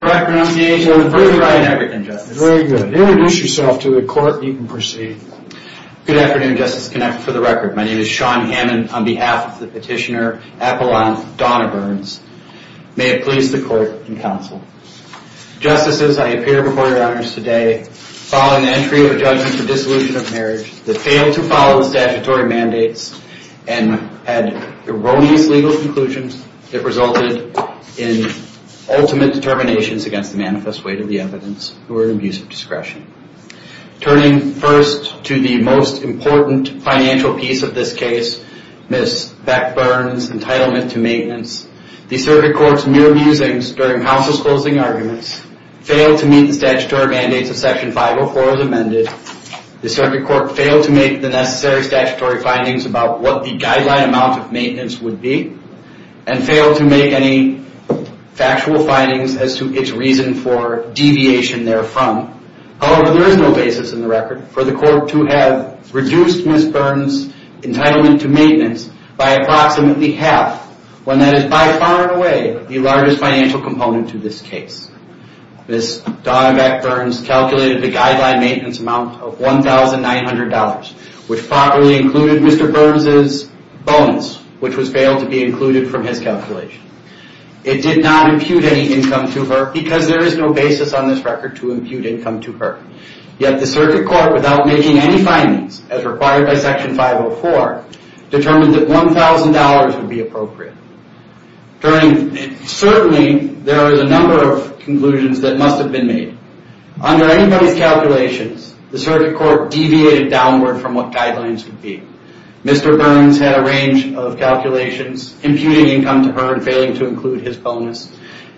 For the record, on behalf of the petitioner, Apollon Donna Burns, may it please the court and counsel. Justices, I appear before your honors today following the entry of a judgment for dissolution of marriage that failed to follow the statutory mandates and had erroneous legal conclusions that resulted in ultimate determinations against the manifest weight of the evidence or abuse of discretion. Turning first to the most important financial piece of this case, Ms. Beck Burns' entitlement to maintenance, the circuit court's mere musings during counsel's closing arguments failed to meet the statutory mandates of Section 504 as amended, the circuit court failed to make the necessary statutory findings about what the guideline amount of maintenance would be, and failed to make any factual findings as to its reason for deviation therefrom. However, there is no basis in the record for the court to have reduced Ms. Burns' entitlement to maintenance by approximately half, when that is by far and away the largest financial component to this case. Ms. Donna Beck Burns calculated the guideline maintenance amount of $1,900, which properly included Mr. Burns' bonus, which was failed to be included from his calculation. It did not impute any income to her, because there is no basis on this record to impute income to her. Yet, the circuit court, without making any findings, as required by Section 504, determined that $1,000 would be appropriate. Certainly, there are a number of conclusions that must have been made. Under anybody's calculations, the circuit court deviated downward from what guidelines would be. Mr. Burns had a range of calculations, imputing income to her and failing to include his bonus,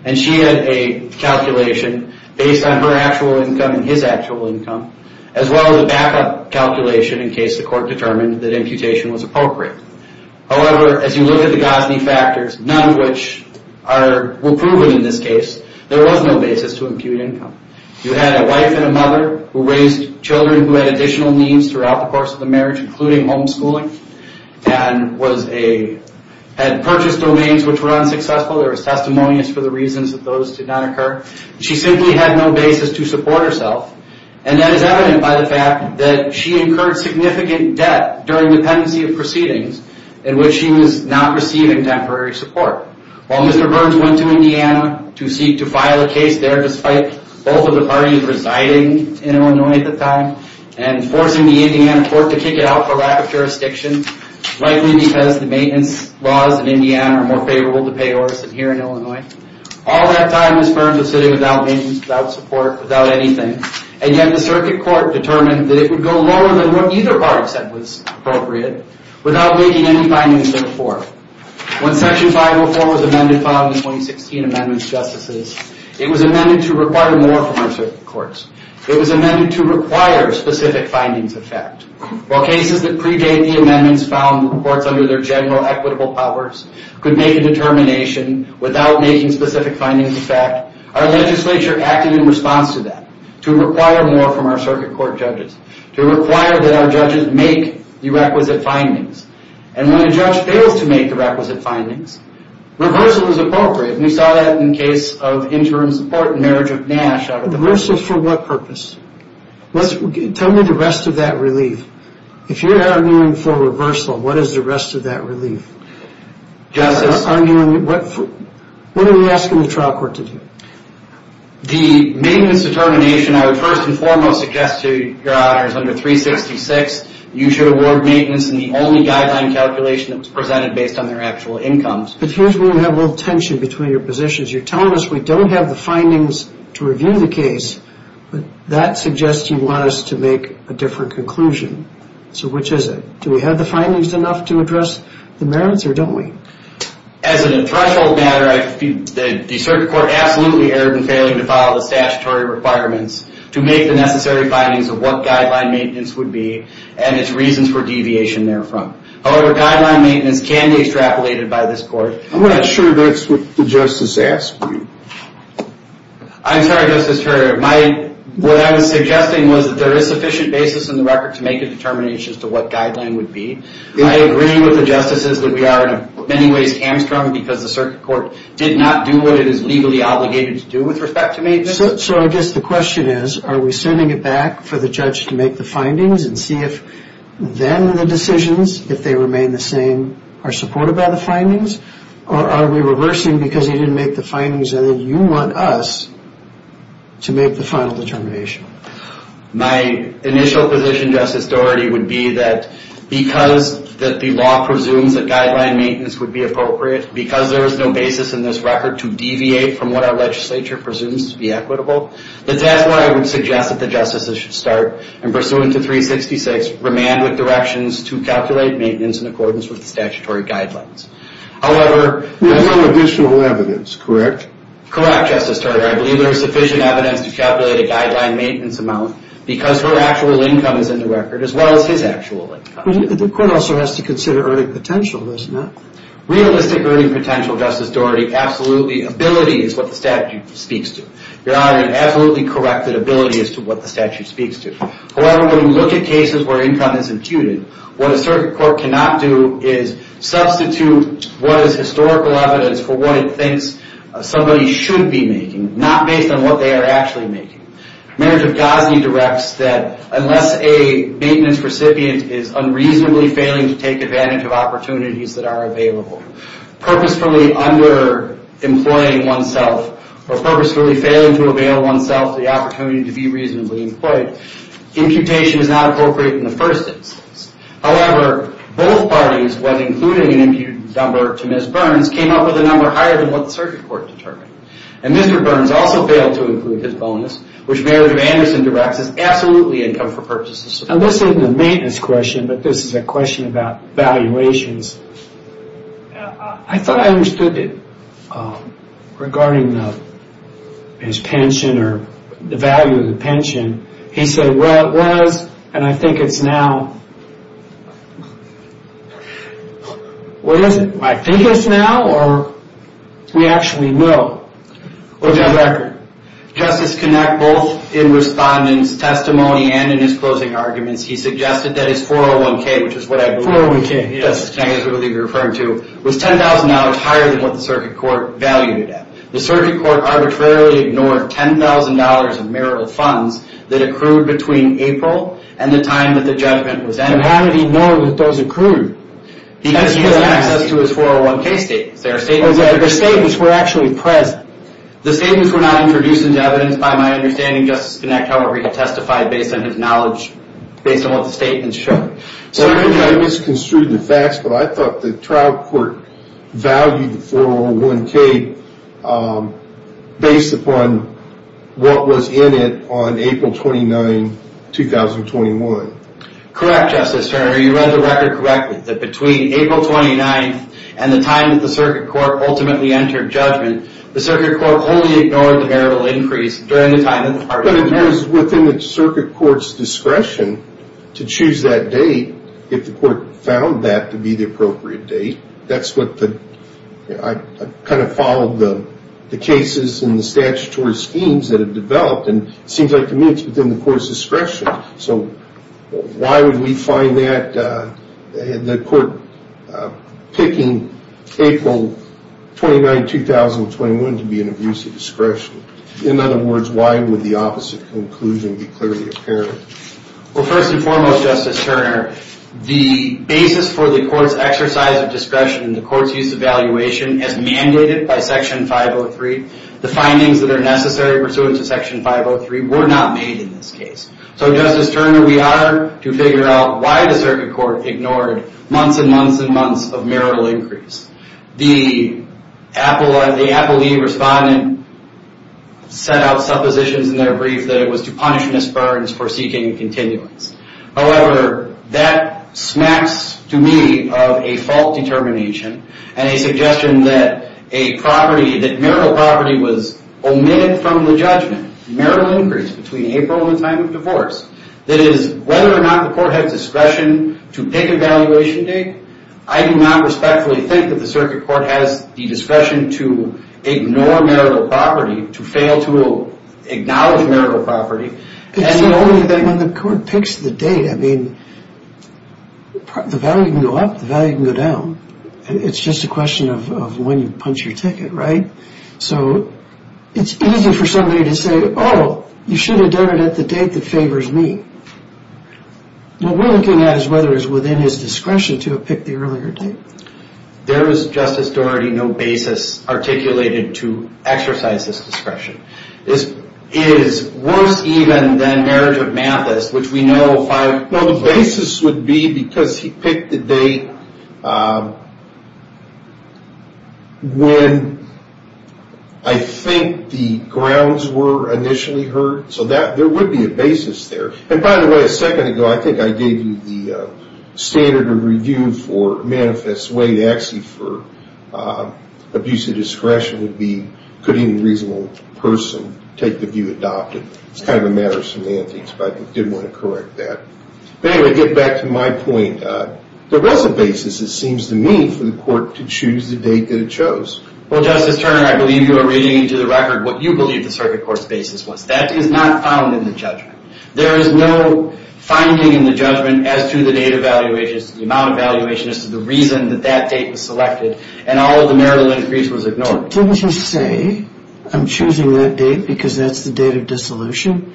and she had a calculation based on her actual income and his actual income, as well as a backup calculation in case the court determined that imputation was appropriate. However, as you look at the Gosney factors, none of which were proven in this case, there was no basis to impute income. You had a wife and a mother who raised children who had additional needs throughout the course of the marriage, including homeschooling, and had purchased domains which were unsuccessful. There was testimonies for the reasons that those did not occur. She simply had no basis to support herself, and that is evident by the fact that she incurred significant debt during the pendency of proceedings in which she was not receiving temporary support. While Mr. Burns went to Indiana to seek to file a case there, despite both of the parties residing in Illinois at the time, and forcing the Indiana court to kick it out for lack of jurisdiction, likely because the maintenance laws in Indiana are more favorable to pay orders than here in Illinois, all that time Mr. Burns was sitting without maintenance, without support, without anything, and yet the circuit court determined that it would go lower than what either party said was appropriate, without making any findings therefore. When section 504 was amended following the 2016 amendments, justices, it was amended to require more from our circuit courts. It was amended to require specific findings of fact. While cases that predate the amendments found the courts under their general equitable powers could make a determination without making specific findings of fact, our legislature acted in response to that, to require more from our circuit court judges, to require that our judges make the requisite findings, and when a judge fails to make the requisite findings. Reversal is appropriate, and we saw that in the case of interim support in marriage of Nash. Reversal for what purpose? Tell me the rest of that relief. If you're arguing for reversal, what is the rest of that relief? Justice? What are we asking the trial court to do? The maintenance determination I would first and foremost suggest to your honors, under 366, you should award maintenance in the only guideline calculation that was presented based on their actual incomes. But here's where we have a little tension between your positions. You're telling us we don't have the findings to review the case, but that suggests you want us to make a different conclusion. So which is it? Do we have the findings enough to address the merits, or don't we? As a threshold matter, the circuit court absolutely erred in failing to follow the statutory requirements to make the necessary findings of what guideline maintenance would be, and its reasons for deviation therefrom. However, guideline maintenance can be extrapolated by this court. I'm not sure that's what the justice asked me. I'm sorry, Justice Ferrier, what I was suggesting was that there is sufficient basis in the record to make a determination as to what guideline would be. I agree with the justices that we are in many ways hamstrung because the circuit court did not do what it is legally obligated to do with respect to maintenance. So I guess the question is, are we sending it back for the judge to make the findings and see if then the decisions, if they remain the same, are supported by the findings, or are we reversing because he didn't make the findings and then you want us to make the final determination? My initial position, Justice Dougherty, would be that because the law presumes that guideline maintenance would be appropriate, because there is no basis in this record to deviate from what our legislature presumes to be equitable, that's why I would suggest that the justices should start, and pursuant to 366, remand with directions to calculate maintenance in accordance with the statutory guidelines. However... There's no additional evidence, correct? Correct, Justice Turner, I believe there is sufficient evidence to calculate a guideline maintenance amount because her actual income is in the record as well as his actual income. The court also has to consider earning potential, doesn't it? Realistic earning potential, Justice Dougherty, absolutely. Ability is what the statute speaks to. Your Honor, an absolutely corrected ability as to what the statute speaks to. However, when you look at cases where income is imputed, what a circuit court cannot do is substitute what is historical evidence for what it thinks somebody should be making, not based on what they are actually making. Merit of Gosney directs that unless a maintenance recipient is unreasonably failing to take advantage of opportunities that are available, purposefully underemploying oneself, or purposefully failing to avail oneself the opportunity to be reasonably employed, imputation is not appropriate in the first instance. However, both parties, when including an imputed number to Ms. Burns, came up with a number higher than what the circuit court determined. And Mr. Burns also failed to include his bonus, which Merit of Anderson directs is absolutely income for purposes of... Now this isn't a maintenance question, but this is a question about valuations. I thought I understood it regarding his pension or the value of the pension. He said, well, it was, and I think it's now. What is it? I think it's now or we actually know? Well, Justice Connacht, both in respondent's testimony and in his closing arguments, he suggested that it's 401k, which is what I believe. 401k. I believe you're referring to, was $10,000 higher than what the circuit court valued it at. The circuit court arbitrarily ignored $10,000 in marital funds that accrued between April and the time that the judgment was ended. And how did he know that those accrued? Because he has access to his 401k statements. Their statements were actually present. The statements were not introduced into evidence. By my understanding, Justice Connacht, however, he testified based on his knowledge, based on what the statements showed. I misconstrued the facts, but I thought the trial court valued the 401k based upon what was in it on April 29, 2021. Correct, Justice Turner. You read the record correctly, that between April 29th and the time that the circuit court ultimately entered judgment, the circuit court only ignored the marital increase during the time that the party- But it is within the circuit court's discretion to choose that date, if the court found that to be the appropriate date. That's what the... I kind of followed the cases and the statutory schemes that have developed, and it seems like to me it's within the court's discretion. So why would we find that the court picking April 29, 2021 to be an abuse of discretion? In other words, why would the opposite conclusion be clearly apparent? Well, first and foremost, Justice Turner, the basis for the court's exercise of discretion and the court's use of valuation as mandated by Section 503, the findings that are necessary pursuant to Section 503 were not made in this case. So, Justice Turner, we are to figure out why the circuit court ignored months and months and months of marital increase. The appellee respondent set out suppositions in their brief that it was to punish Ms. Burns for seeking a continuance. However, that smacks to me of a fault determination and a suggestion that a property, that marital property was omitted from the judgment. Marital increase between April and time of divorce. That is, whether or not the court had discretion to pick a valuation date, I do not respectfully think that the circuit court has the discretion to ignore marital property, to fail to acknowledge marital property. It's the only thing when the court picks the date, I mean, the value can go up, the value can go down. It's just a question of when you punch your ticket, right? So, it's easy for somebody to say, oh, you should have done it at the date that favors me. Well, we're looking at whether it's within his discretion to have picked the earlier date. There is, Justice Doherty, no basis articulated to exercise this discretion. This is worse even than marriage of Mathis, which we know five... Well, the basis would be because he picked the date when I think the grounds were initially heard. So, there would be a basis there. And by the way, a second ago, I think I gave you the standard of review for Manifest Way to actually for abuse of discretion would be, could any reasonable person take the view adopted? It's kind of a matter of semantics, but I did want to correct that. But anyway, to get back to my point, there was a basis, it seems to me, for the court to choose the date that it chose. Well, Justice Turner, I believe you are reading into the record what you believe the circuit court's basis was. That is not found in the judgment. There is no finding in the judgment as to the date of evaluation, as to the amount of evaluation, as to the reason that that date was selected, and all of the marital increase was ignored. Didn't you say, I'm choosing that date because that's the date of dissolution?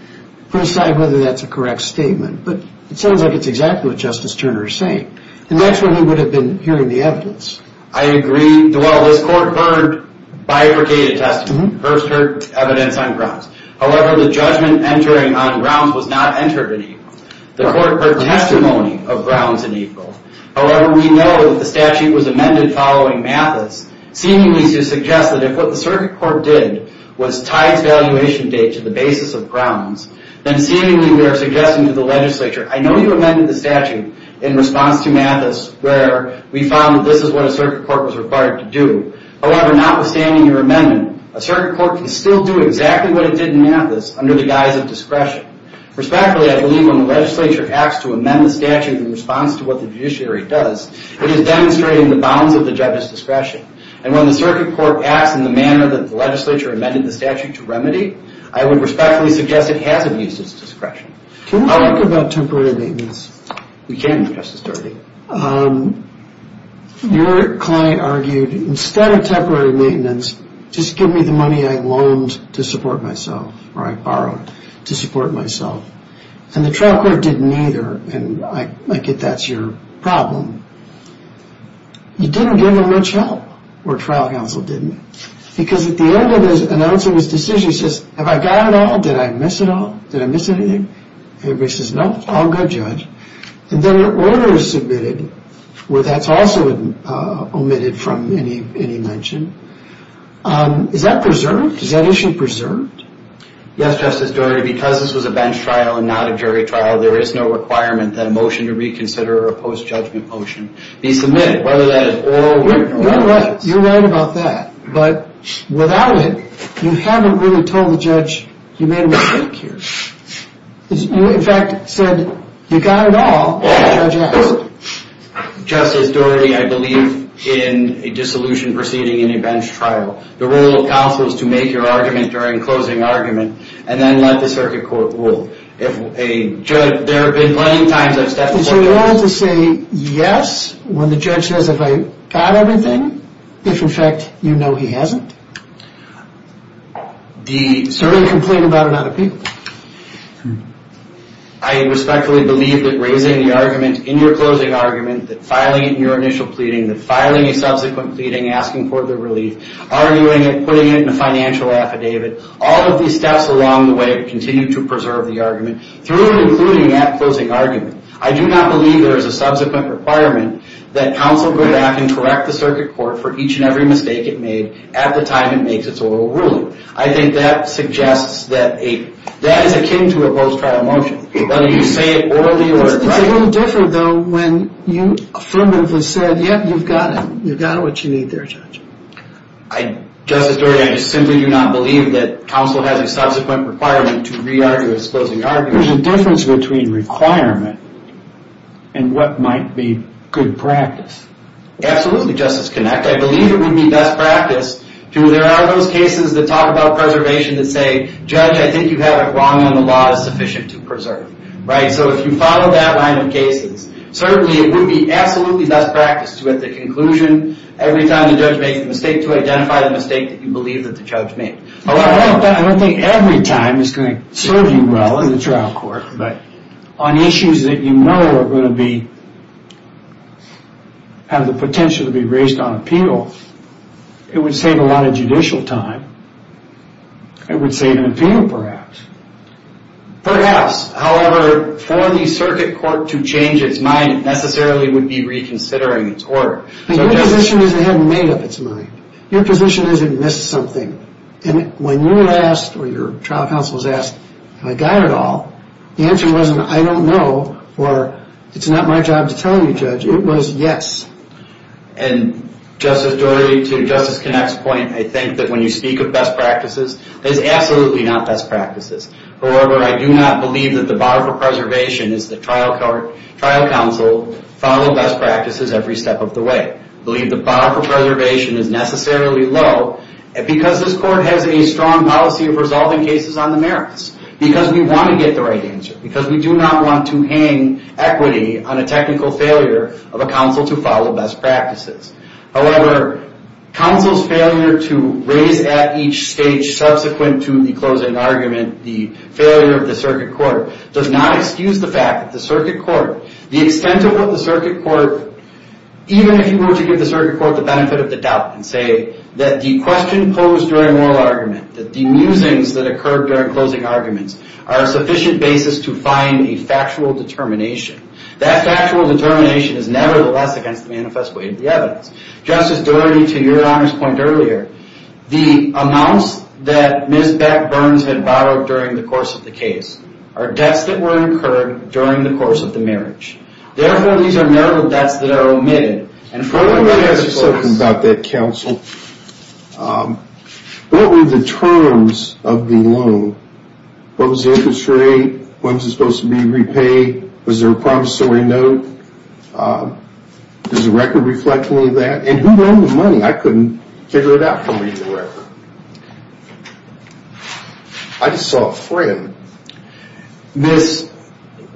Put aside whether that's a correct statement, but it sounds like it's exactly what Justice Turner is saying. The next one, he would have been hearing the evidence. I agree. Well, this court heard bifurcated testimony. First heard evidence on grounds. However, the judgment entering on grounds was not entered in equal. The court heard testimony of grounds in equal. However, we know that the statute was amended following Mathis, seemingly to suggest that if what the circuit court did was tie its valuation date to the basis of grounds, then seemingly we are suggesting to the legislature, I know you amended the statute in response to Mathis, where we found that this is what a circuit court was required to do. However, notwithstanding your amendment, a circuit court can still do exactly what it did in Mathis under the guise of discretion. Respectfully, I believe when the legislature acts to amend the statute in response to what the judiciary does, it is demonstrating the bounds of the judge's discretion. And when the circuit court acts in the manner that the legislature amended the statute to remedy, I would respectfully suggest it hasn't used its discretion. Can we talk about temporary maintenance? We can, Justice Dougherty. Your client argued, instead of temporary maintenance, just give me the money I loaned to support myself, or I borrowed to support myself. And the trial court didn't either, and I get that's your problem. You didn't give them much help, or trial counsel didn't. Because at the end of announcing his decision, he says, have I got it all? Did I miss it all? Did I miss anything? Everybody says, no, all good, Judge. And then an order is submitted where that's also omitted from any mention. Is that preserved? Is that issue preserved? Yes, Justice Dougherty. Because this was a bench trial and not a jury trial, there is no requirement that a motion to reconsider or a post-judgment motion be submitted, whether that is oral or not. You're right. You're right about that. But without it, you haven't really told the judge, you made a mistake here. You, in fact, said, you got it all, and the judge asked. Justice Dougherty, I believe in a dissolution proceeding in a bench trial, the role of counsel is to make your argument during closing argument, and then let the circuit court rule. If a judge, there have been plenty of times I've stepped forward. Is your role to say, yes, when the judge says, have I got everything? If, in fact, you know he hasn't? The serving complaint about an unappealable. I respectfully believe that raising the argument in your closing argument, that filing it in your initial pleading, that filing a subsequent pleading, asking for the relief, arguing it, putting it in a financial affidavit, all of these steps along the way continue to preserve the argument through and including that closing argument. I do not believe there is a subsequent requirement that counsel go back and correct the circuit at the time it makes its oral ruling. I think that suggests that that is akin to a post-trial motion. Whether you say it orally or directly. It's a little different, though, when you affirmatively said, yep, you've got it. You've got what you need there, Judge. Justice Dougherty, I just simply do not believe that counsel has a subsequent requirement to re-argue a closing argument. There's a difference between requirement and what might be good practice. Absolutely, Justice Kinect. I believe it would be best practice to, there are those cases that talk about preservation that say, Judge, I think you have it wrong and the law is sufficient to preserve. Right? So if you follow that line of cases, certainly it would be absolutely best practice to at the conclusion, every time the judge makes a mistake, to identify the mistake that you believe that the judge made. I don't think every time is going to serve you well in the trial court, but on issues that you know are going to be, have the potential to be raised on appeal, it would save a lot of judicial time. It would save an appeal, perhaps. Perhaps. However, for the circuit court to change its mind, it necessarily would be reconsidering its order. Your position is it hadn't made up its mind. Your position is it missed something. And when you asked, or your trial counsel was asked, have I got it all? The answer wasn't, I don't know, or it's not my job to tell you, Judge. It was, yes. And Justice Dory, to Justice Knapp's point, I think that when you speak of best practices, that is absolutely not best practices. However, I do not believe that the bar for preservation is that trial counsel follow best practices every step of the way. I believe the bar for preservation is necessarily low because this court has a strong policy of resolving cases on the merits. Because we want to get the right answer. Because we do not want to hang equity on a technical failure of a counsel to follow best practices. However, counsel's failure to raise at each stage subsequent to the closing argument, the failure of the circuit court, does not excuse the fact that the circuit court, the extent of what the circuit court, even if you were to give the circuit court the benefit of the doubt and say that the question posed during moral argument, that the musings that the arguments are sufficient basis to find a factual determination. That factual determination is nevertheless against the manifest way of the evidence. Justice Dory, to your Honor's point earlier, the amounts that Ms. Beck-Burns had borrowed during the course of the case are debts that were incurred during the course of the marriage. Therefore, these are marital debts that are omitted. Let me ask you something about that, counsel. What were the terms of the loan? What was the interest rate? When was it supposed to be repaid? Was there a promissory note? Does the record reflect any of that? And who owned the money? I couldn't figure it out from reading the record. I just saw a friend. Ms.,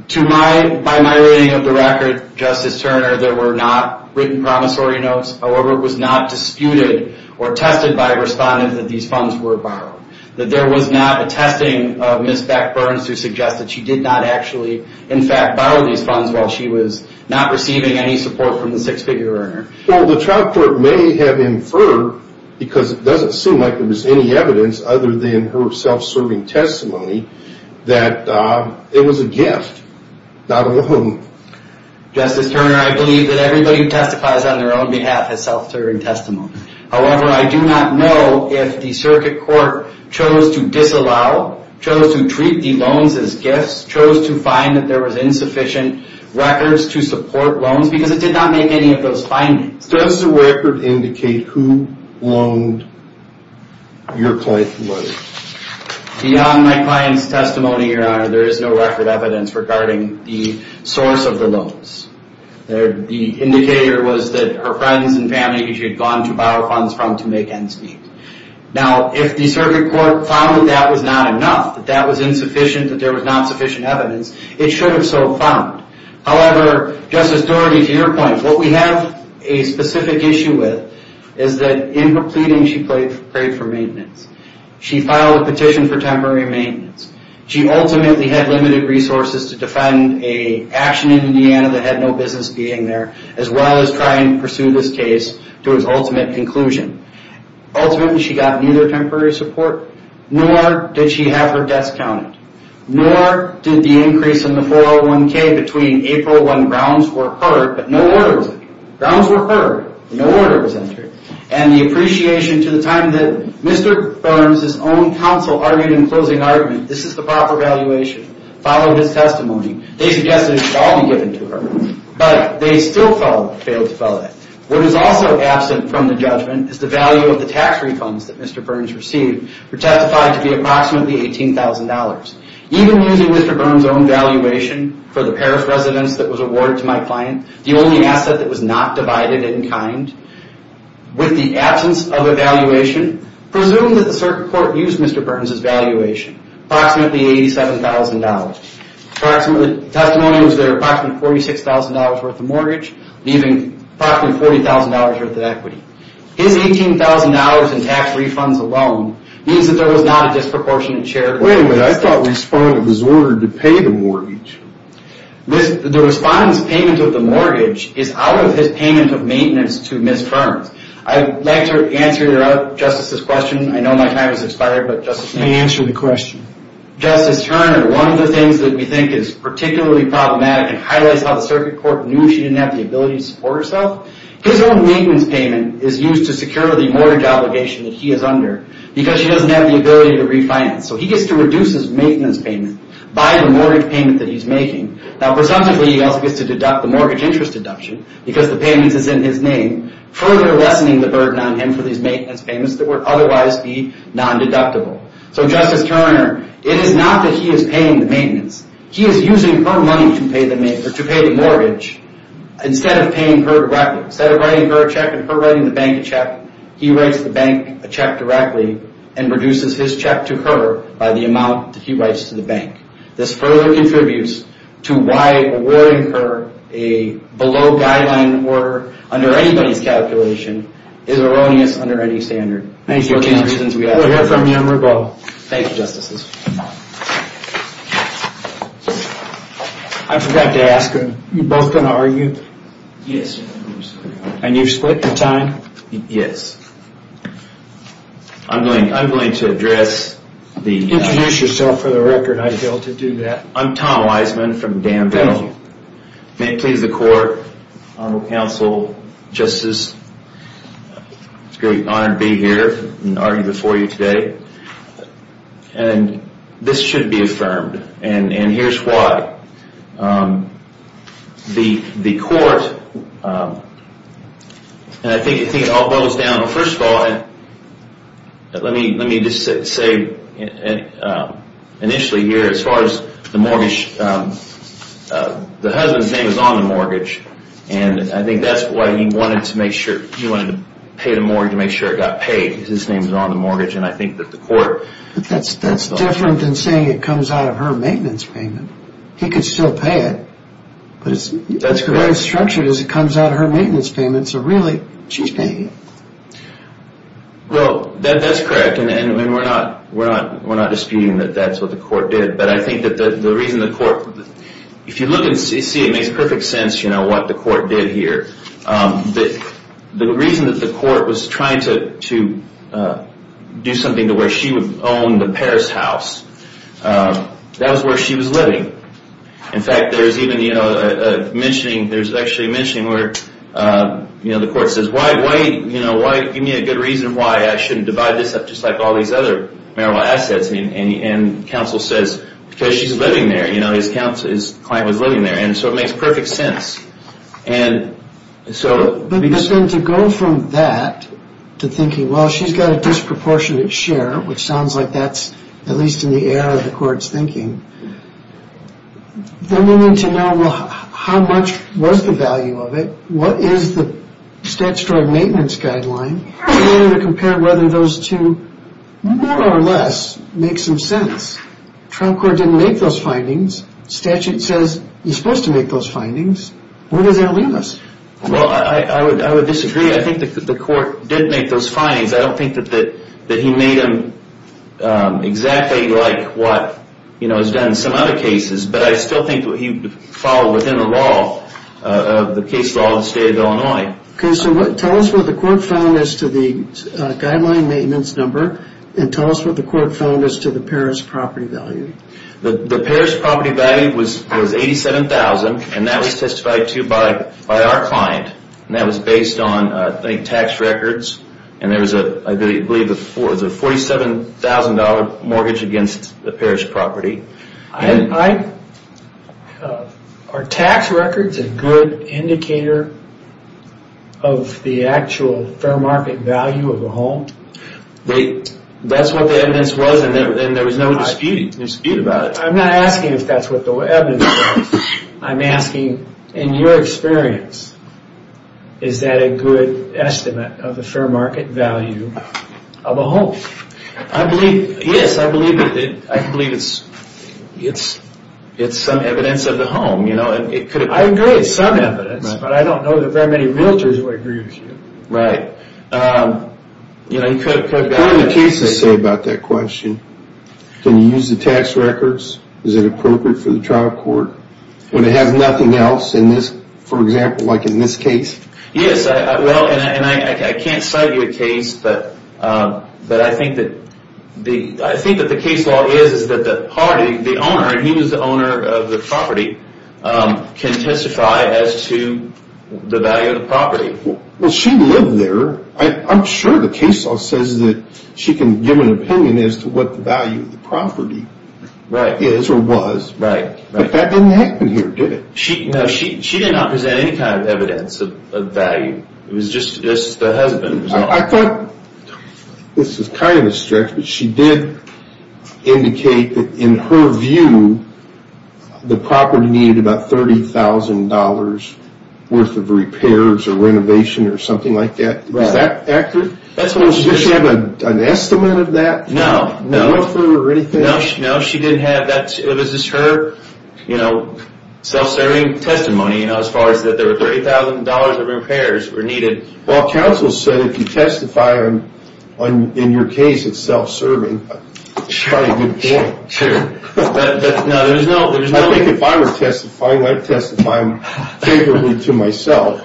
to my, by my reading of the record, Justice Turner, there were not written promissory notes. However, it was not disputed or tested by a respondent that these funds were borrowed. That there was not a testing of Ms. Beck-Burns to suggest that she did not actually, in fact, borrow these funds while she was not receiving any support from the six-figure earner. Well, the trial court may have inferred, because it doesn't seem like there was any evidence other than her self-serving testimony, that it was a gift, not a loan. Justice Turner, I believe that everybody who testifies on their own behalf has self-serving testimony. However, I do not know if the circuit court chose to disallow, chose to treat the loans as gifts, chose to find that there was insufficient records to support loans, because it did not make any of those findings. Does the record indicate who loaned your client the money? Beyond my client's testimony, Your Honor, there is no record evidence regarding the source of the loans. The indicator was that her friends and family that she had gone to borrow funds from to make ends meet. Now, if the circuit court found that that was not enough, that that was insufficient, that there was not sufficient evidence, it should have so found. However, Justice Doherty, to your point, what we have a specific issue with is that in her pleading, she prayed for maintenance. She filed a petition for temporary maintenance. She ultimately had limited resources to defend an action in Indiana that had no business being there, as well as try and pursue this case to its ultimate conclusion. Ultimately, she got neither temporary support, nor did she have her debts counted, nor did the increase in the 401k between April when grounds were heard, but no order was entered. Grounds were heard. No order was entered. And the appreciation to the time that Mr. Burns' own counsel argued in closing argument, this is the proper valuation, followed his testimony. They suggested it should all be given to her, but they still failed to follow that. What is also absent from the judgment is the value of the tax refunds that Mr. Burns received were testified to be approximately $18,000. Even using Mr. Burns' own valuation for the Paris residence that was awarded to my client, the only asset that was not divided in kind, with the absence of a valuation, presumed that the circuit court used Mr. Burns' valuation, approximately $87,000. The testimony was there approximately $46,000 worth of mortgage, leaving approximately $40,000 worth of equity. His $18,000 in tax refunds alone means that there was not a disproportionate share... Wait a minute. I thought Respondent was ordered to pay the mortgage. The Respondent's payment of the mortgage is out of his payment of maintenance to Ms. Burns. I'd like to answer Justice's question. I know my time has expired, but... You may answer the question. Justice Turner, one of the things that we think is particularly problematic and highlights how the circuit court knew she didn't have the ability to support herself, his own maintenance payment is used to secure the mortgage obligation that he is under because she doesn't have the ability to refinance. He gets to reduce his maintenance payment by the mortgage payment that he's making. Presumptively, he also gets to deduct the mortgage interest deduction because the payments is in his name, further lessening the burden on him for these maintenance payments that would otherwise be non-deductible. Justice Turner, it is not that he is paying the maintenance. He is using her money to pay the mortgage instead of paying her directly. Instead of writing her a check and her writing the bank a check, he writes the bank a check directly and reduces his check to her by the amount that he writes to the bank. This further contributes to why awarding her a below guideline order under anybody's calculation is erroneous under any standard. Thank you, Judge. We'll hear from you in rebuttal. Thank you, Justices. I forgot to ask, are you both going to argue? Yes. And you've split in time? Yes. I'm going to address the... Introduce yourself for the record, I'd be able to do that. I'm Tom Weisman from Danville. Thank you. May it please the Court, Honorable Counsel, Justice, it's a great honor to be here and argue before you today. And this should be affirmed. And here's why. The Court, and I think it all boils down to, first of all, let me just say initially here, as far as the mortgage, the husband's name is on the mortgage. And I think that's why he wanted to pay the mortgage to make sure it got paid, because his name is on the mortgage. And I think that the Court... But that's different than saying it comes out of her maintenance payment. He could still pay it. But the way it's structured is it comes out of her maintenance payment. So really, she's paying it. Well, that's correct. And we're not disputing that that's what the Court did. But I think that the reason the Court... If you look and see, it makes perfect sense what the Court did here. The reason that the Court was trying to do something to where she would own the Paris house, that was where she was living. In fact, there's even a mentioning, there's actually a mentioning where the Court says, why, give me a good reason why I shouldn't divide this up just like all these other marital assets. And counsel says, because she's living there. His client was living there. And so it makes perfect sense. And so... But then to go from that to thinking, well, she's got a disproportionate share, which sounds like that's at least in the air of the Court's thinking. Then we need to know, well, how much was the value of it? What is the statutory maintenance guideline? And then to compare whether those two, more or less, make some sense. Trial Court didn't make those findings. Statute says, you're supposed to make those findings. Where does that leave us? Well, I would disagree. I think that the Court did make those findings. I don't think that he made them exactly like what is done in some other cases. But I still think he followed within the law, the case law of the state of Illinois. Okay, so tell us what the Court found as to the guideline maintenance number. And tell us what the Court found as to the Paris property value. The Paris property value was $87,000. And that was testified to by our client. And that was based on, I think, tax records. And there was, I believe, a $47,000 mortgage against the Paris property. Are tax records a good indicator of the actual fair market value of a home? That's what the evidence was. And there was no dispute about it. I'm not asking if that's what the evidence was. I'm asking, in your experience, is that a good estimate of the fair market value of a home? Yes, I believe it's some evidence of the home. I agree, it's some evidence. But I don't know that very many realtors would agree with you. Right. What do the cases say about that question? Can you use the tax records? Is it appropriate for the trial court? Would it have nothing else in this, for example, like in this case? Yes, well, and I can't cite you a case, but I think that the case law is that the party, the owner, and he was the owner of the property, can testify as to the value of the property. Well, she lived there. I'm sure the case law says that she can give an opinion as to what the value of the property is or was. But that didn't happen here, did it? No, she did not present any kind of evidence of value. It was just the husband. I thought this was kind of a stretch, but she did indicate that, in her view, the property needed about $30,000 worth of repairs or renovation or something like that. Is that accurate? Did she have an estimate of that? No. No? No, she didn't have that. It was just her self-serving testimony, as far as that there were $30,000 of repairs were needed. Well, counsel said if you testify in your case, it's self-serving. That's probably a good point. I think if I were testifying, I'd testify favorably to myself.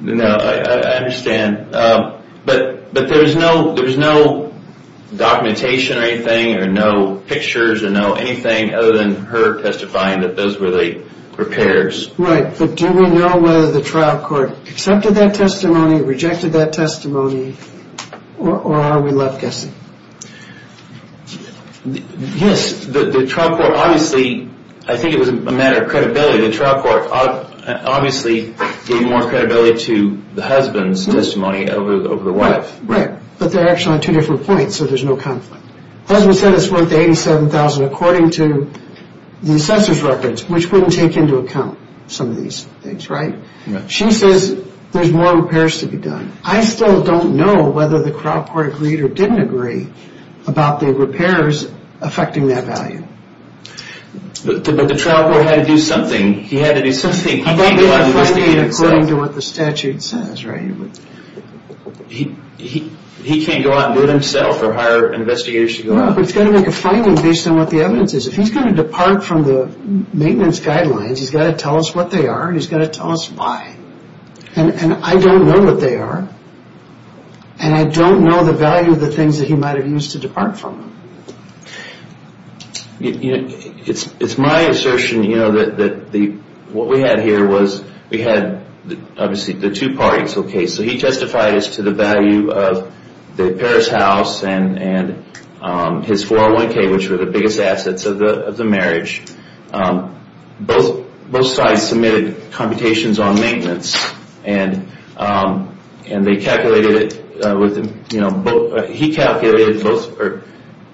No, I understand. But there was no documentation or anything or no pictures or anything other than her testifying that those were the repairs. Right. But do we know whether the trial court accepted that testimony, or are we left guessing? Yes, the trial court obviously, I think it was a matter of credibility, the trial court obviously gave more credibility to the husband's testimony over the wife. Right, but they're actually on two different points, so there's no conflict. The husband said it's worth $87,000 according to the assessor's records, which wouldn't take into account some of these things, right? She says there's more repairs to be done. I still don't know whether the trial court agreed or didn't agree about the repairs affecting that value. But the trial court had to do something. He had to do something. He can't go out and do it himself. According to what the statute says, right? He can't go out and do it himself or hire investigators to go out? No, but he's got to make a finding based on what the evidence is. If he's going to depart from the maintenance guidelines, he's got to tell us what they are and he's got to tell us why. And I don't know what they are. And I don't know the value of the things that he might have used to depart from. It's my assertion that what we had here was we had obviously the two parties. So he testified as to the value of the Paris house and his 401K, which were the biggest assets of the marriage. Both sides submitted computations on maintenance.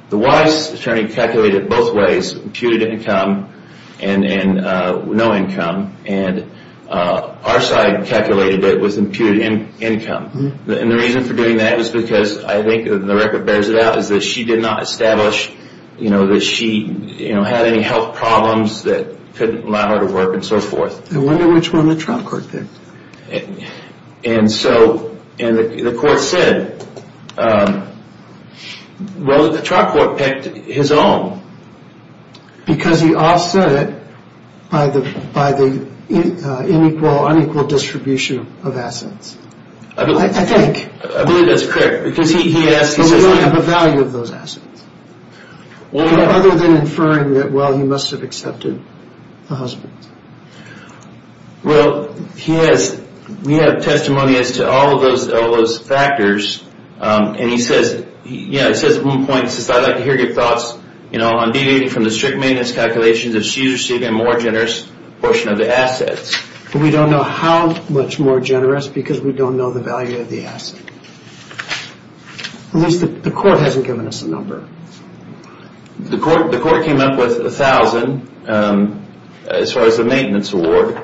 The wife's attorney calculated both ways, imputed income and no income. And our side calculated it with imputed income. And the reason for doing that is because I think the record bears it out that she did not establish that she had any health problems that couldn't allow her to work and so forth. I wonder which one the trial court picked. And so the court said, well, the trial court picked his own. Because he offset it by the unequal distribution of assets. I believe that's correct. But we don't have a value of those assets. Other than inferring that, well, he must have accepted the husband. Well, we have testimony as to all of those factors. And he says at one point, he says, I'd like to hear your thoughts on deviating from the strict maintenance calculations We don't know how much more generous because we don't know the value of the asset. At least the court hasn't given us a number. The court came up with $1,000 as far as the maintenance award.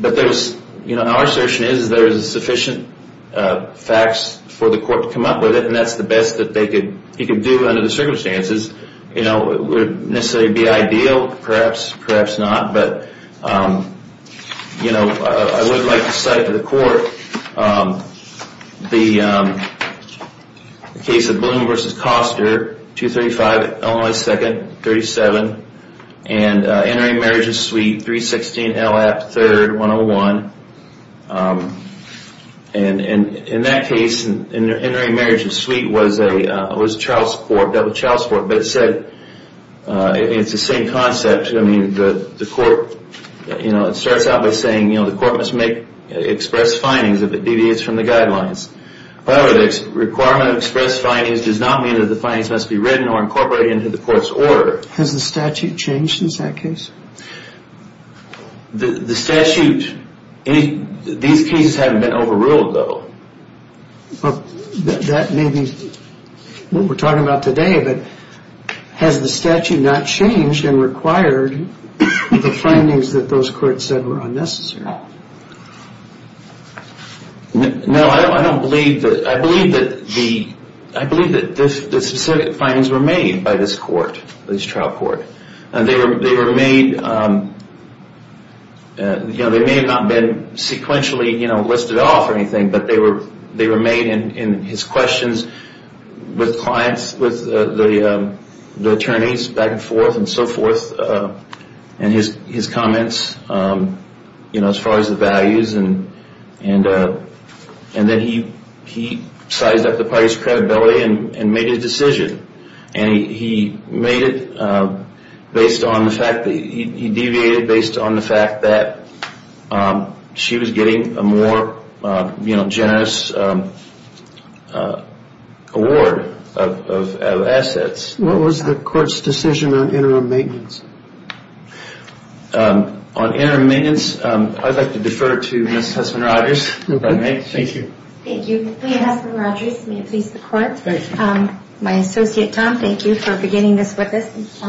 But our assertion is there's sufficient facts for the court to come up with it, and that's the best that he could do under the circumstances. It would necessarily be ideal, perhaps, perhaps not. But I would like to cite to the court the case of Bloom v. Koster, 235 Illinois 2nd, 37, and entering marriage of suite 316 L.F. 3rd, 101. And in that case, entering marriage of suite was a child support, double child support. But it said, it's the same concept. I mean, the court, you know, it starts out by saying, you know, the court must make express findings if it deviates from the guidelines. However, the requirement of express findings does not mean that the findings must be written or incorporated into the court's order. Has the statute changed since that case? The statute, these cases haven't been overruled, though. That may be what we're talking about today, but has the statute not changed and required the findings that those courts said were unnecessary? No, I don't believe that. I believe that the specific findings were made by this court, this trial court. They were made, you know, they may have not been sequentially, you know, listed off or anything, but they were made in his questions with clients, with the attorneys, back and forth and so forth, and his comments, you know, as far as the values. And then he sized up the party's credibility and made his decision. And he made it based on the fact that he deviated based on the fact that she was getting a more, you know, generous award of assets. What was the court's decision on interim maintenance? On interim maintenance, I'd like to defer to Ms. Hussman-Rogers. Thank you. Thank you. My associate, Tom, thank you for beginning this with us.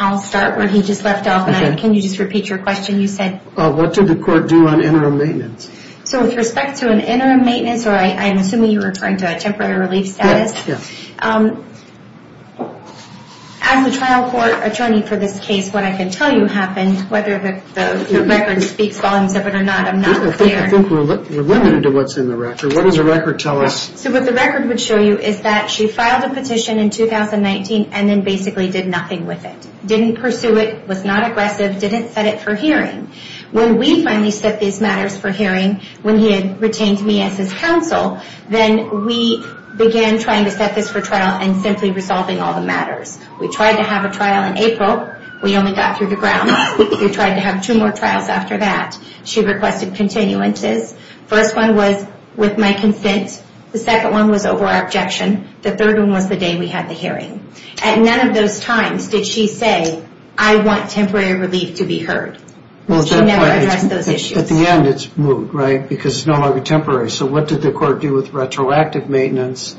I'll start where he just left off. Can you just repeat your question? You said? What did the court do on interim maintenance? So with respect to an interim maintenance, or I'm assuming you're referring to a temporary relief status. Yes. As the trial court attorney for this case, what I can tell you happened, whether the record speaks volumes of it or not, I'm not clear. I think we're limited to what's in the record. What does the record tell us? So what the record would show you is that she filed a petition in 2019 and then basically did nothing with it. Didn't pursue it, was not aggressive, didn't set it for hearing. When we finally set these matters for hearing, when he had retained me as his counsel, then we began trying to set this for trial and simply resolving all the matters. We tried to have a trial in April. We only got through the grounds. We tried to have two more trials after that. She requested continuances. First one was with my consent. The second one was over our objection. The third one was the day we had the hearing. At none of those times did she say, I want temporary relief to be heard. She never addressed those issues. At the end, it's moot, right? Because it's no longer temporary. So what did the court do with retroactive maintenance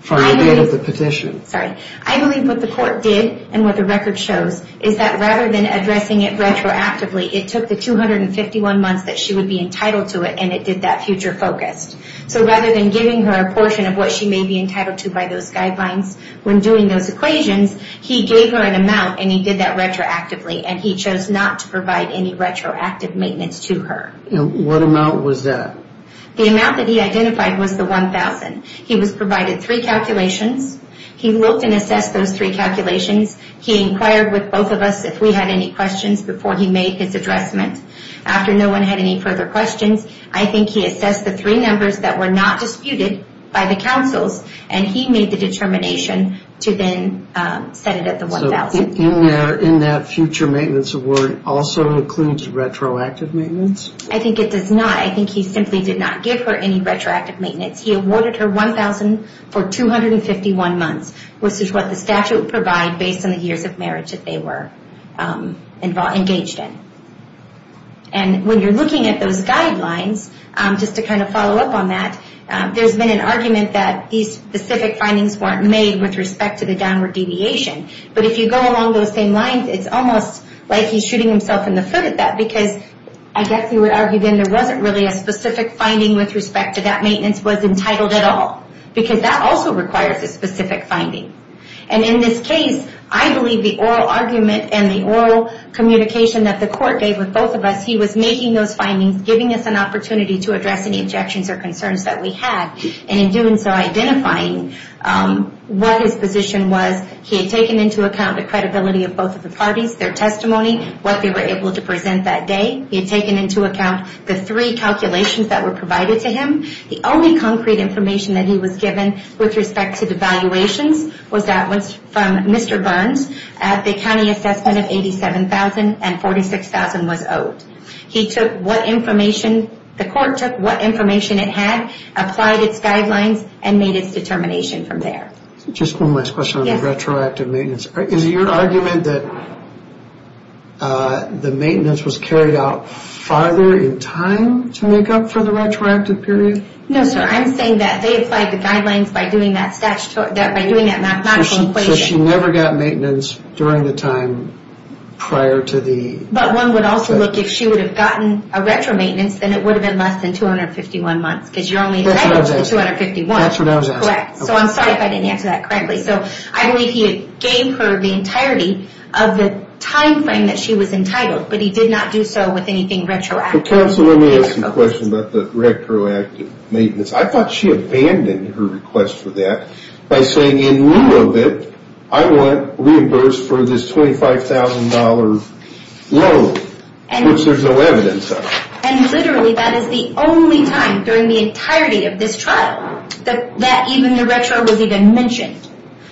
for the date of the petition? Sorry. I believe what the court did and what the record shows is that rather than addressing it retroactively, it took the 251 months that she would be entitled to it, and it did that future focused. So rather than giving her a portion of what she may be entitled to by those guidelines, when doing those equations, he gave her an amount, and he did that retroactively, and he chose not to provide any retroactive maintenance to her. And what amount was that? The amount that he identified was the 1,000. He was provided three calculations. He looked and assessed those three calculations. He inquired with both of us if we had any questions before he made his addressment. After no one had any further questions, I think he assessed the three numbers that were not disputed by the counsels, and he made the determination to then set it at the 1,000. So in that future maintenance award also includes retroactive maintenance? I think it does not. I think he simply did not give her any retroactive maintenance. He awarded her 1,000 for 251 months, which is what the statute would provide based on the years of marriage that they were engaged in. And when you're looking at those guidelines, just to kind of follow up on that, there's been an argument that these specific findings weren't made with respect to the downward deviation. But if you go along those same lines, it's almost like he's shooting himself in the foot at that, because I guess he would argue then there wasn't really a specific finding with respect to that maintenance was entitled at all, because that also requires a specific finding. And in this case, I believe the oral argument and the oral communication that the court gave with both of us, he was making those findings, giving us an opportunity to address any objections or concerns that we had, and in doing so, identifying what his position was. He had taken into account the credibility of both of the parties, their testimony, what they were able to present that day. He had taken into account the three calculations that were provided to him. The only concrete information that he was given with respect to the valuations was that was from Mr. Burns at the county assessment of 87,000 and 46,000 was owed. He took what information, the court took what information it had, applied its guidelines, and made its determination from there. Just one last question on the retroactive maintenance. Is your argument that the maintenance was carried out farther in time to make up for the retroactive period? No, sir. I'm saying that they applied the guidelines by doing that mathematical equation. So she never got maintenance during the time prior to the... But one would also look, if she would have gotten a retro maintenance, then it would have been less than 251 months, because you're only entitled to 251. That's what I was asking. Correct. So I'm sorry if I didn't answer that correctly. So I believe he gave her the entirety of the time frame that she was entitled, but he did not do so with anything retroactive. Counsel, let me ask you a question about the retroactive maintenance. I thought she abandoned her request for that by saying, in lieu of it, I want reimbursed for this $25,000 loan, which there's no evidence of. And literally, that is the only time during the entirety of this trial that even the retro was even mentioned.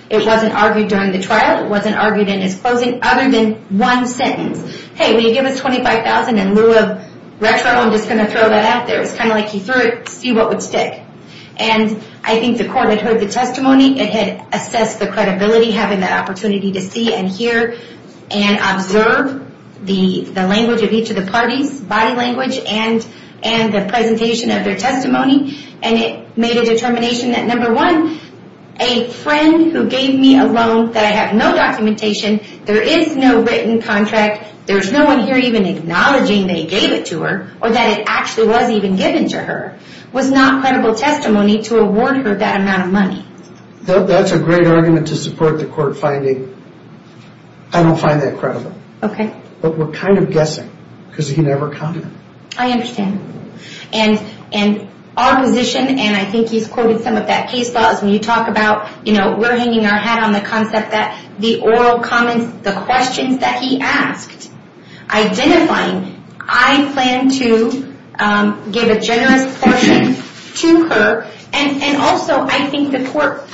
It wasn't argued during the trial. It wasn't argued in his closing other than one sentence. Hey, will you give us $25,000 in lieu of retro? I'm just going to throw that out there. It's kind of like you threw it, see what would stick. And I think the court had heard the testimony. It had assessed the credibility, having that opportunity to see and hear and observe the language of each of the parties, body language and the presentation of their testimony. And it made a determination that, number one, a friend who gave me a loan that I have no documentation, there is no written contract, there's no one here even acknowledging they gave it to her, or that it actually was even given to her, was not credible testimony to award her that amount of money. That's a great argument to support the court finding. I don't find that credible. Okay. But we're kind of guessing because he never commented. I understand. And our position, and I think he's quoted some of that case law, is when you talk about, you know, we're hanging our hat on the concept that the oral comments, the questions that he asked, identifying, I plan to give a generous portion to her. And also, I think the court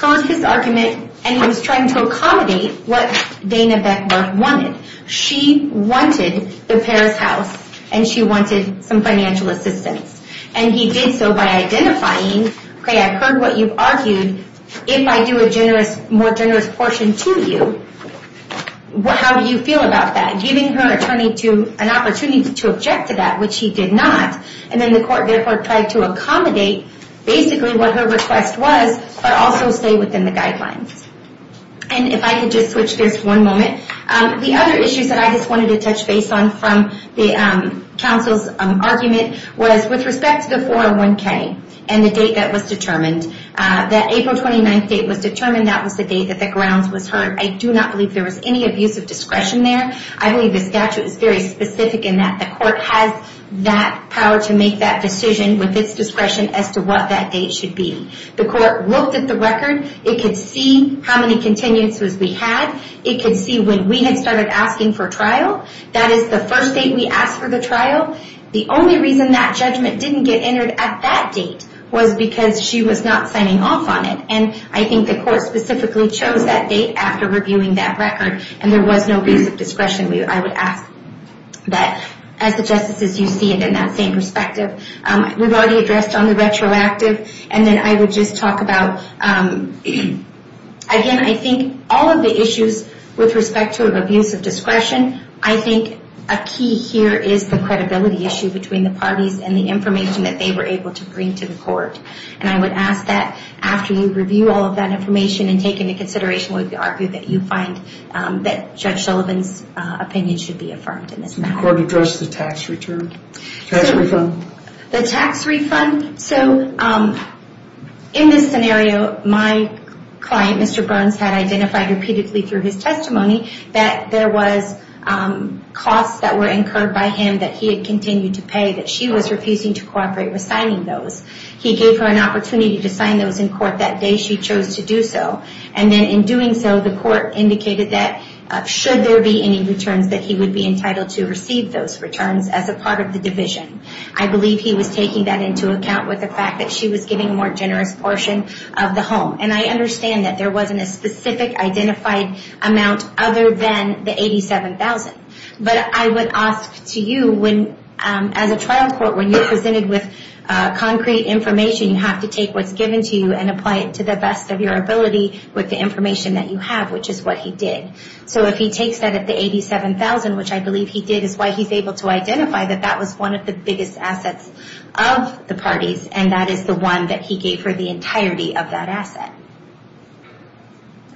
heard his argument, and he was trying to accommodate what Dana Beckberg wanted. She wanted the Paris house, and she wanted some financial assistance. And he did so by identifying, okay, I've heard what you've argued. If I do a more generous portion to you, how do you feel about that? Giving her an opportunity to object to that, which he did not. And then the court therefore tried to accommodate basically what her request was, but also stay within the guidelines. And if I could just switch gears for one moment. The other issues that I just wanted to touch base on from the counsel's argument was with respect to the 401k and the date that was determined, that April 29th date was determined. That was the date that the grounds was heard. I do not believe there was any abuse of discretion there. I believe the statute is very specific in that. The court has that power to make that decision with its discretion as to what that date should be. The court looked at the record. It could see how many continuances we had. It could see when we had started asking for trial. That is the first date we asked for the trial. The only reason that judgment didn't get entered at that date was because she was not signing off on it. And I think the court specifically chose that date after reviewing that record, and there was no abuse of discretion. I would ask that, as the justices, you see it in that same perspective. We've already addressed on the retroactive, and then I would just talk about, again, I think all of the issues with respect to abuse of discretion, I think a key here is the credibility issue between the parties and the information that they were able to bring to the court. And I would ask that after you review all of that information and take into consideration that you find that Judge Sullivan's opinion should be affirmed in this matter. The court addressed the tax refund. The tax refund. So in this scenario, my client, Mr. Burns, had identified repeatedly through his testimony that there was costs that were incurred by him that he had continued to pay, that she was refusing to cooperate with signing those. He gave her an opportunity to sign those in court that day she chose to do so. And then in doing so, the court indicated that should there be any returns, that he would be entitled to receive those returns as a part of the division. I believe he was taking that into account with the fact that she was giving a more generous portion of the home. And I understand that there wasn't a specific identified amount other than the $87,000. But I would ask to you, as a trial court, when you're presented with concrete information, you have to take what's given to you and apply it to the best of your ability with the information that you have, which is what he did. So if he takes that at the $87,000, which I believe he did, is why he's able to identify that that was one of the biggest assets of the parties, and that is the one that he gave her the entirety of that asset.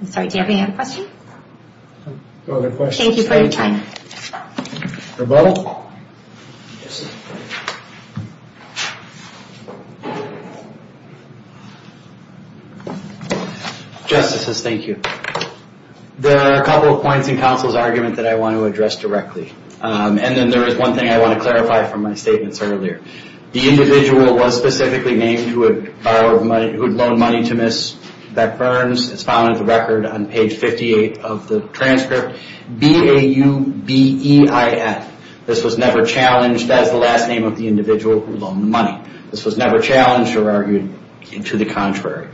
I'm sorry, do you have any other questions? No other questions. Thank you for your time. Rebuttal? Justices, thank you. There are a couple of points in counsel's argument that I want to address directly. And then there is one thing I want to clarify from my statements earlier. The individual was specifically named who had loaned money to Ms. Beck-Burns. It's found in the record on page 58 of the transcript. B-A-U-B-E-I-N. This was never challenged as the last name of the individual who loaned the money. This was never challenged or argued to the contrary.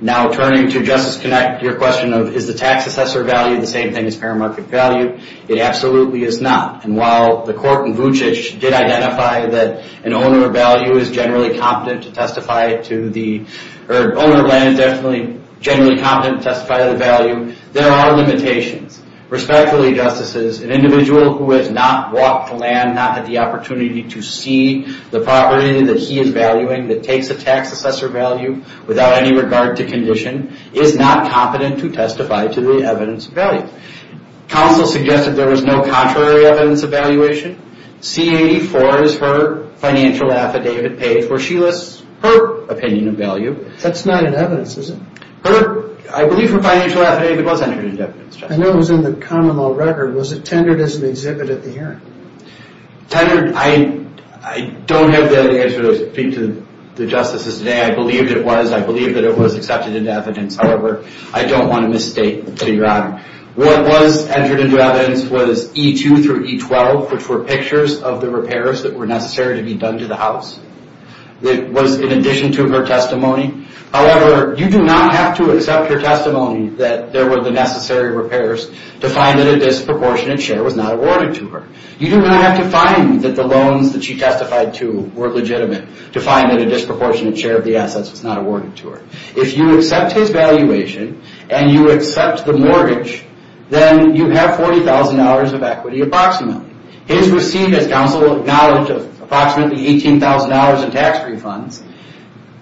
Now turning to Justice Connett, your question of, is the tax assessor value the same thing as paramarket value? It absolutely is not. And while the court in Vucic did identify that an owner value is generally competent to testify to the, or an owner of land is generally competent to testify to the value, there are limitations. Respectfully, Justices, an individual who has not walked the land, not had the opportunity to see the property that he is valuing, that takes a tax assessor value without any regard to condition, is not competent to testify to the evidence of value. Counsel suggested there was no contrary evidence of valuation. C-84 is her financial affidavit page where she lists her opinion of value. That's not an evidence, is it? I believe her financial affidavit was entered into evidence. I know it was in the common law record. Was it tendered as an exhibit at the hearing? Tendered, I don't have the answer to speak to the Justices today. I believe it was. I believe that it was accepted into evidence. However, I don't want to misstate to your honor. What was entered into evidence was E-2 through E-12, which were pictures of the repairs that were necessary to be done to the house. It was in addition to her testimony. However, you do not have to accept her testimony that there were the necessary repairs to find that a disproportionate share was not awarded to her. You do not have to find that the loans that she testified to were legitimate to find that a disproportionate share of the assets was not awarded to her. If you accept his valuation and you accept the mortgage, then you have $40,000 of equity approximately. His receipt, as counsel acknowledged, of approximately $18,000 in tax refunds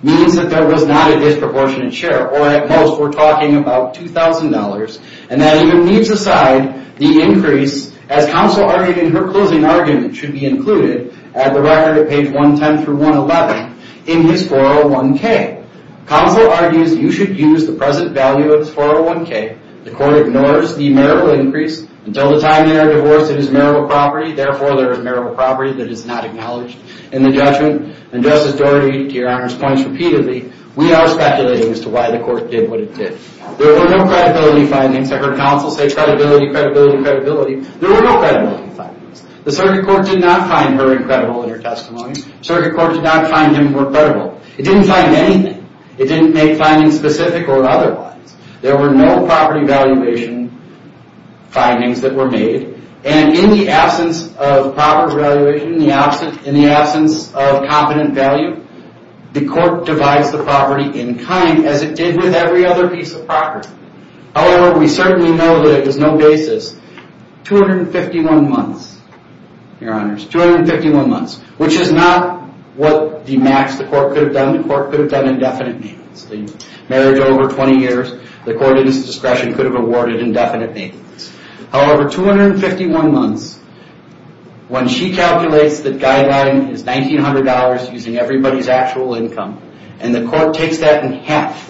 means that there was not a disproportionate share, or at most we're talking about $2,000. That even leaves aside the increase, as counsel argued in her closing argument, should be included at the record at page 110 through 111 in his 401k. Counsel argues you should use the present value of his 401k. The court ignores the marital increase. Until the time they are divorced, it is marital property. Therefore, there is marital property that is not acknowledged in the judgment. And Justice Doherty, to your honor's points repeatedly, we are speculating as to why the court did what it did. There were no credibility findings. I heard counsel say credibility, credibility, credibility. There were no credibility findings. The circuit court did not find her incredible in her testimony. The circuit court did not find him credible. It didn't find anything. It didn't make findings specific or otherwise. There were no property valuation findings that were made. And in the absence of property valuation, in the absence of competent value, the court divides the property in kind as it did with every other piece of property. However, we certainly know that it was no basis. 251 months, your honors, 251 months, which is not what the max the court could have done. The court could have done indefinite maintenance. They married over 20 years. The court in its discretion could have awarded indefinite maintenance. However, 251 months, when she calculates the guideline is $1,900 using everybody's actual income, and the court takes that in half,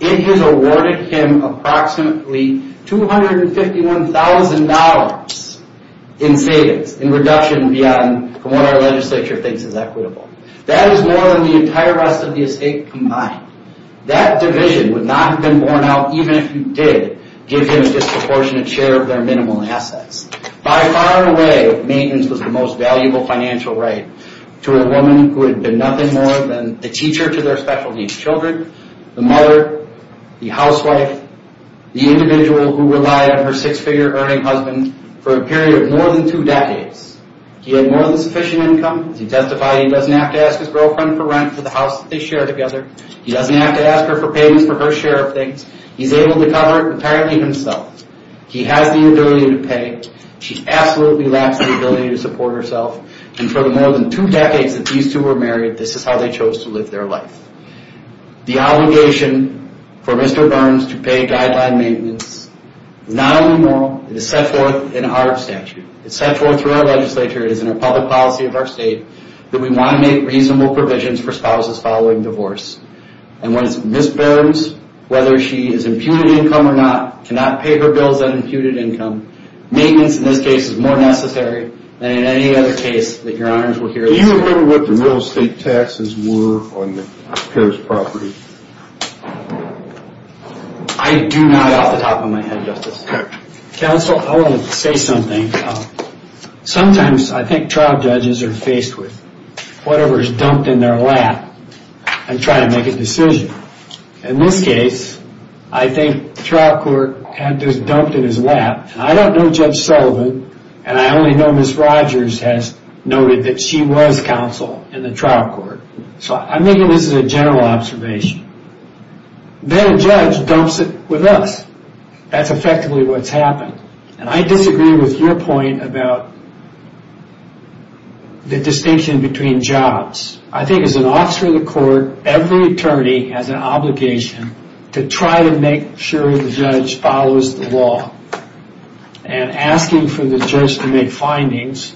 it has awarded him approximately $251,000 in savings, in reduction beyond what our legislature thinks is equitable. That is more than the entire rest of the estate combined. That division would not have been borne out, even if you did give him a disproportionate share of their minimal assets. By far and away, maintenance was the most valuable financial right to a woman who had been nothing more than the teacher to their special needs children, the mother, the housewife, the individual who relied on her six-figure earning husband for a period of more than two decades. He had more than sufficient income. As he testified, he doesn't have to ask his girlfriend for rent for the house that they share together. He doesn't have to ask her for payments for her share of things. He's able to cover it apparently himself. He has the ability to pay. She absolutely lacks the ability to support herself. And for the more than two decades that these two were married, this is how they chose to live their life. The obligation for Mr. Burns to pay guideline maintenance is not only moral, it is set forth in our statute. It's set forth through our legislature. It is in our public policy of our state that we want to make reasonable provisions for spouses following divorce. And when Ms. Burns, whether she is imputed income or not, cannot pay her bills on imputed income, maintenance in this case is more necessary than in any other case that your honors will hear this case. Do you remember what the real estate taxes were on the pair's property? I do not off the top of my head, Justice. Counsel, I want to say something. Sometimes I think trial judges are faced with whatever is dumped in their lap and try to make a decision. In this case, I think the trial court had this dumped in his lap. I don't know Judge Sullivan, and I only know Ms. Rogers has noted that she was counsel in the trial court. So I'm thinking this is a general observation. Then a judge dumps it with us. That's effectively what's happened. And I disagree with your point about the distinction between jobs. I think as an officer of the court, every attorney has an obligation to try to make sure the judge follows the law. And asking for the judge to make findings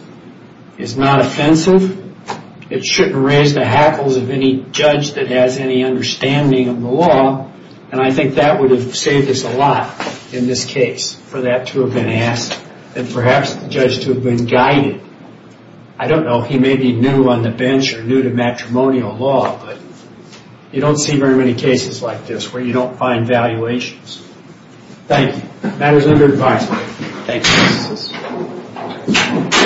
is not offensive. It shouldn't raise the hackles of any judge that has any understanding of the law, and I think that would have saved us a lot in this case for that to have been asked and perhaps the judge to have been guided. I don't know. He may be new on the bench or new to matrimonial law, but you don't see very many cases like this where you don't find valuations. Thank you. Matters under advisement. Thank you.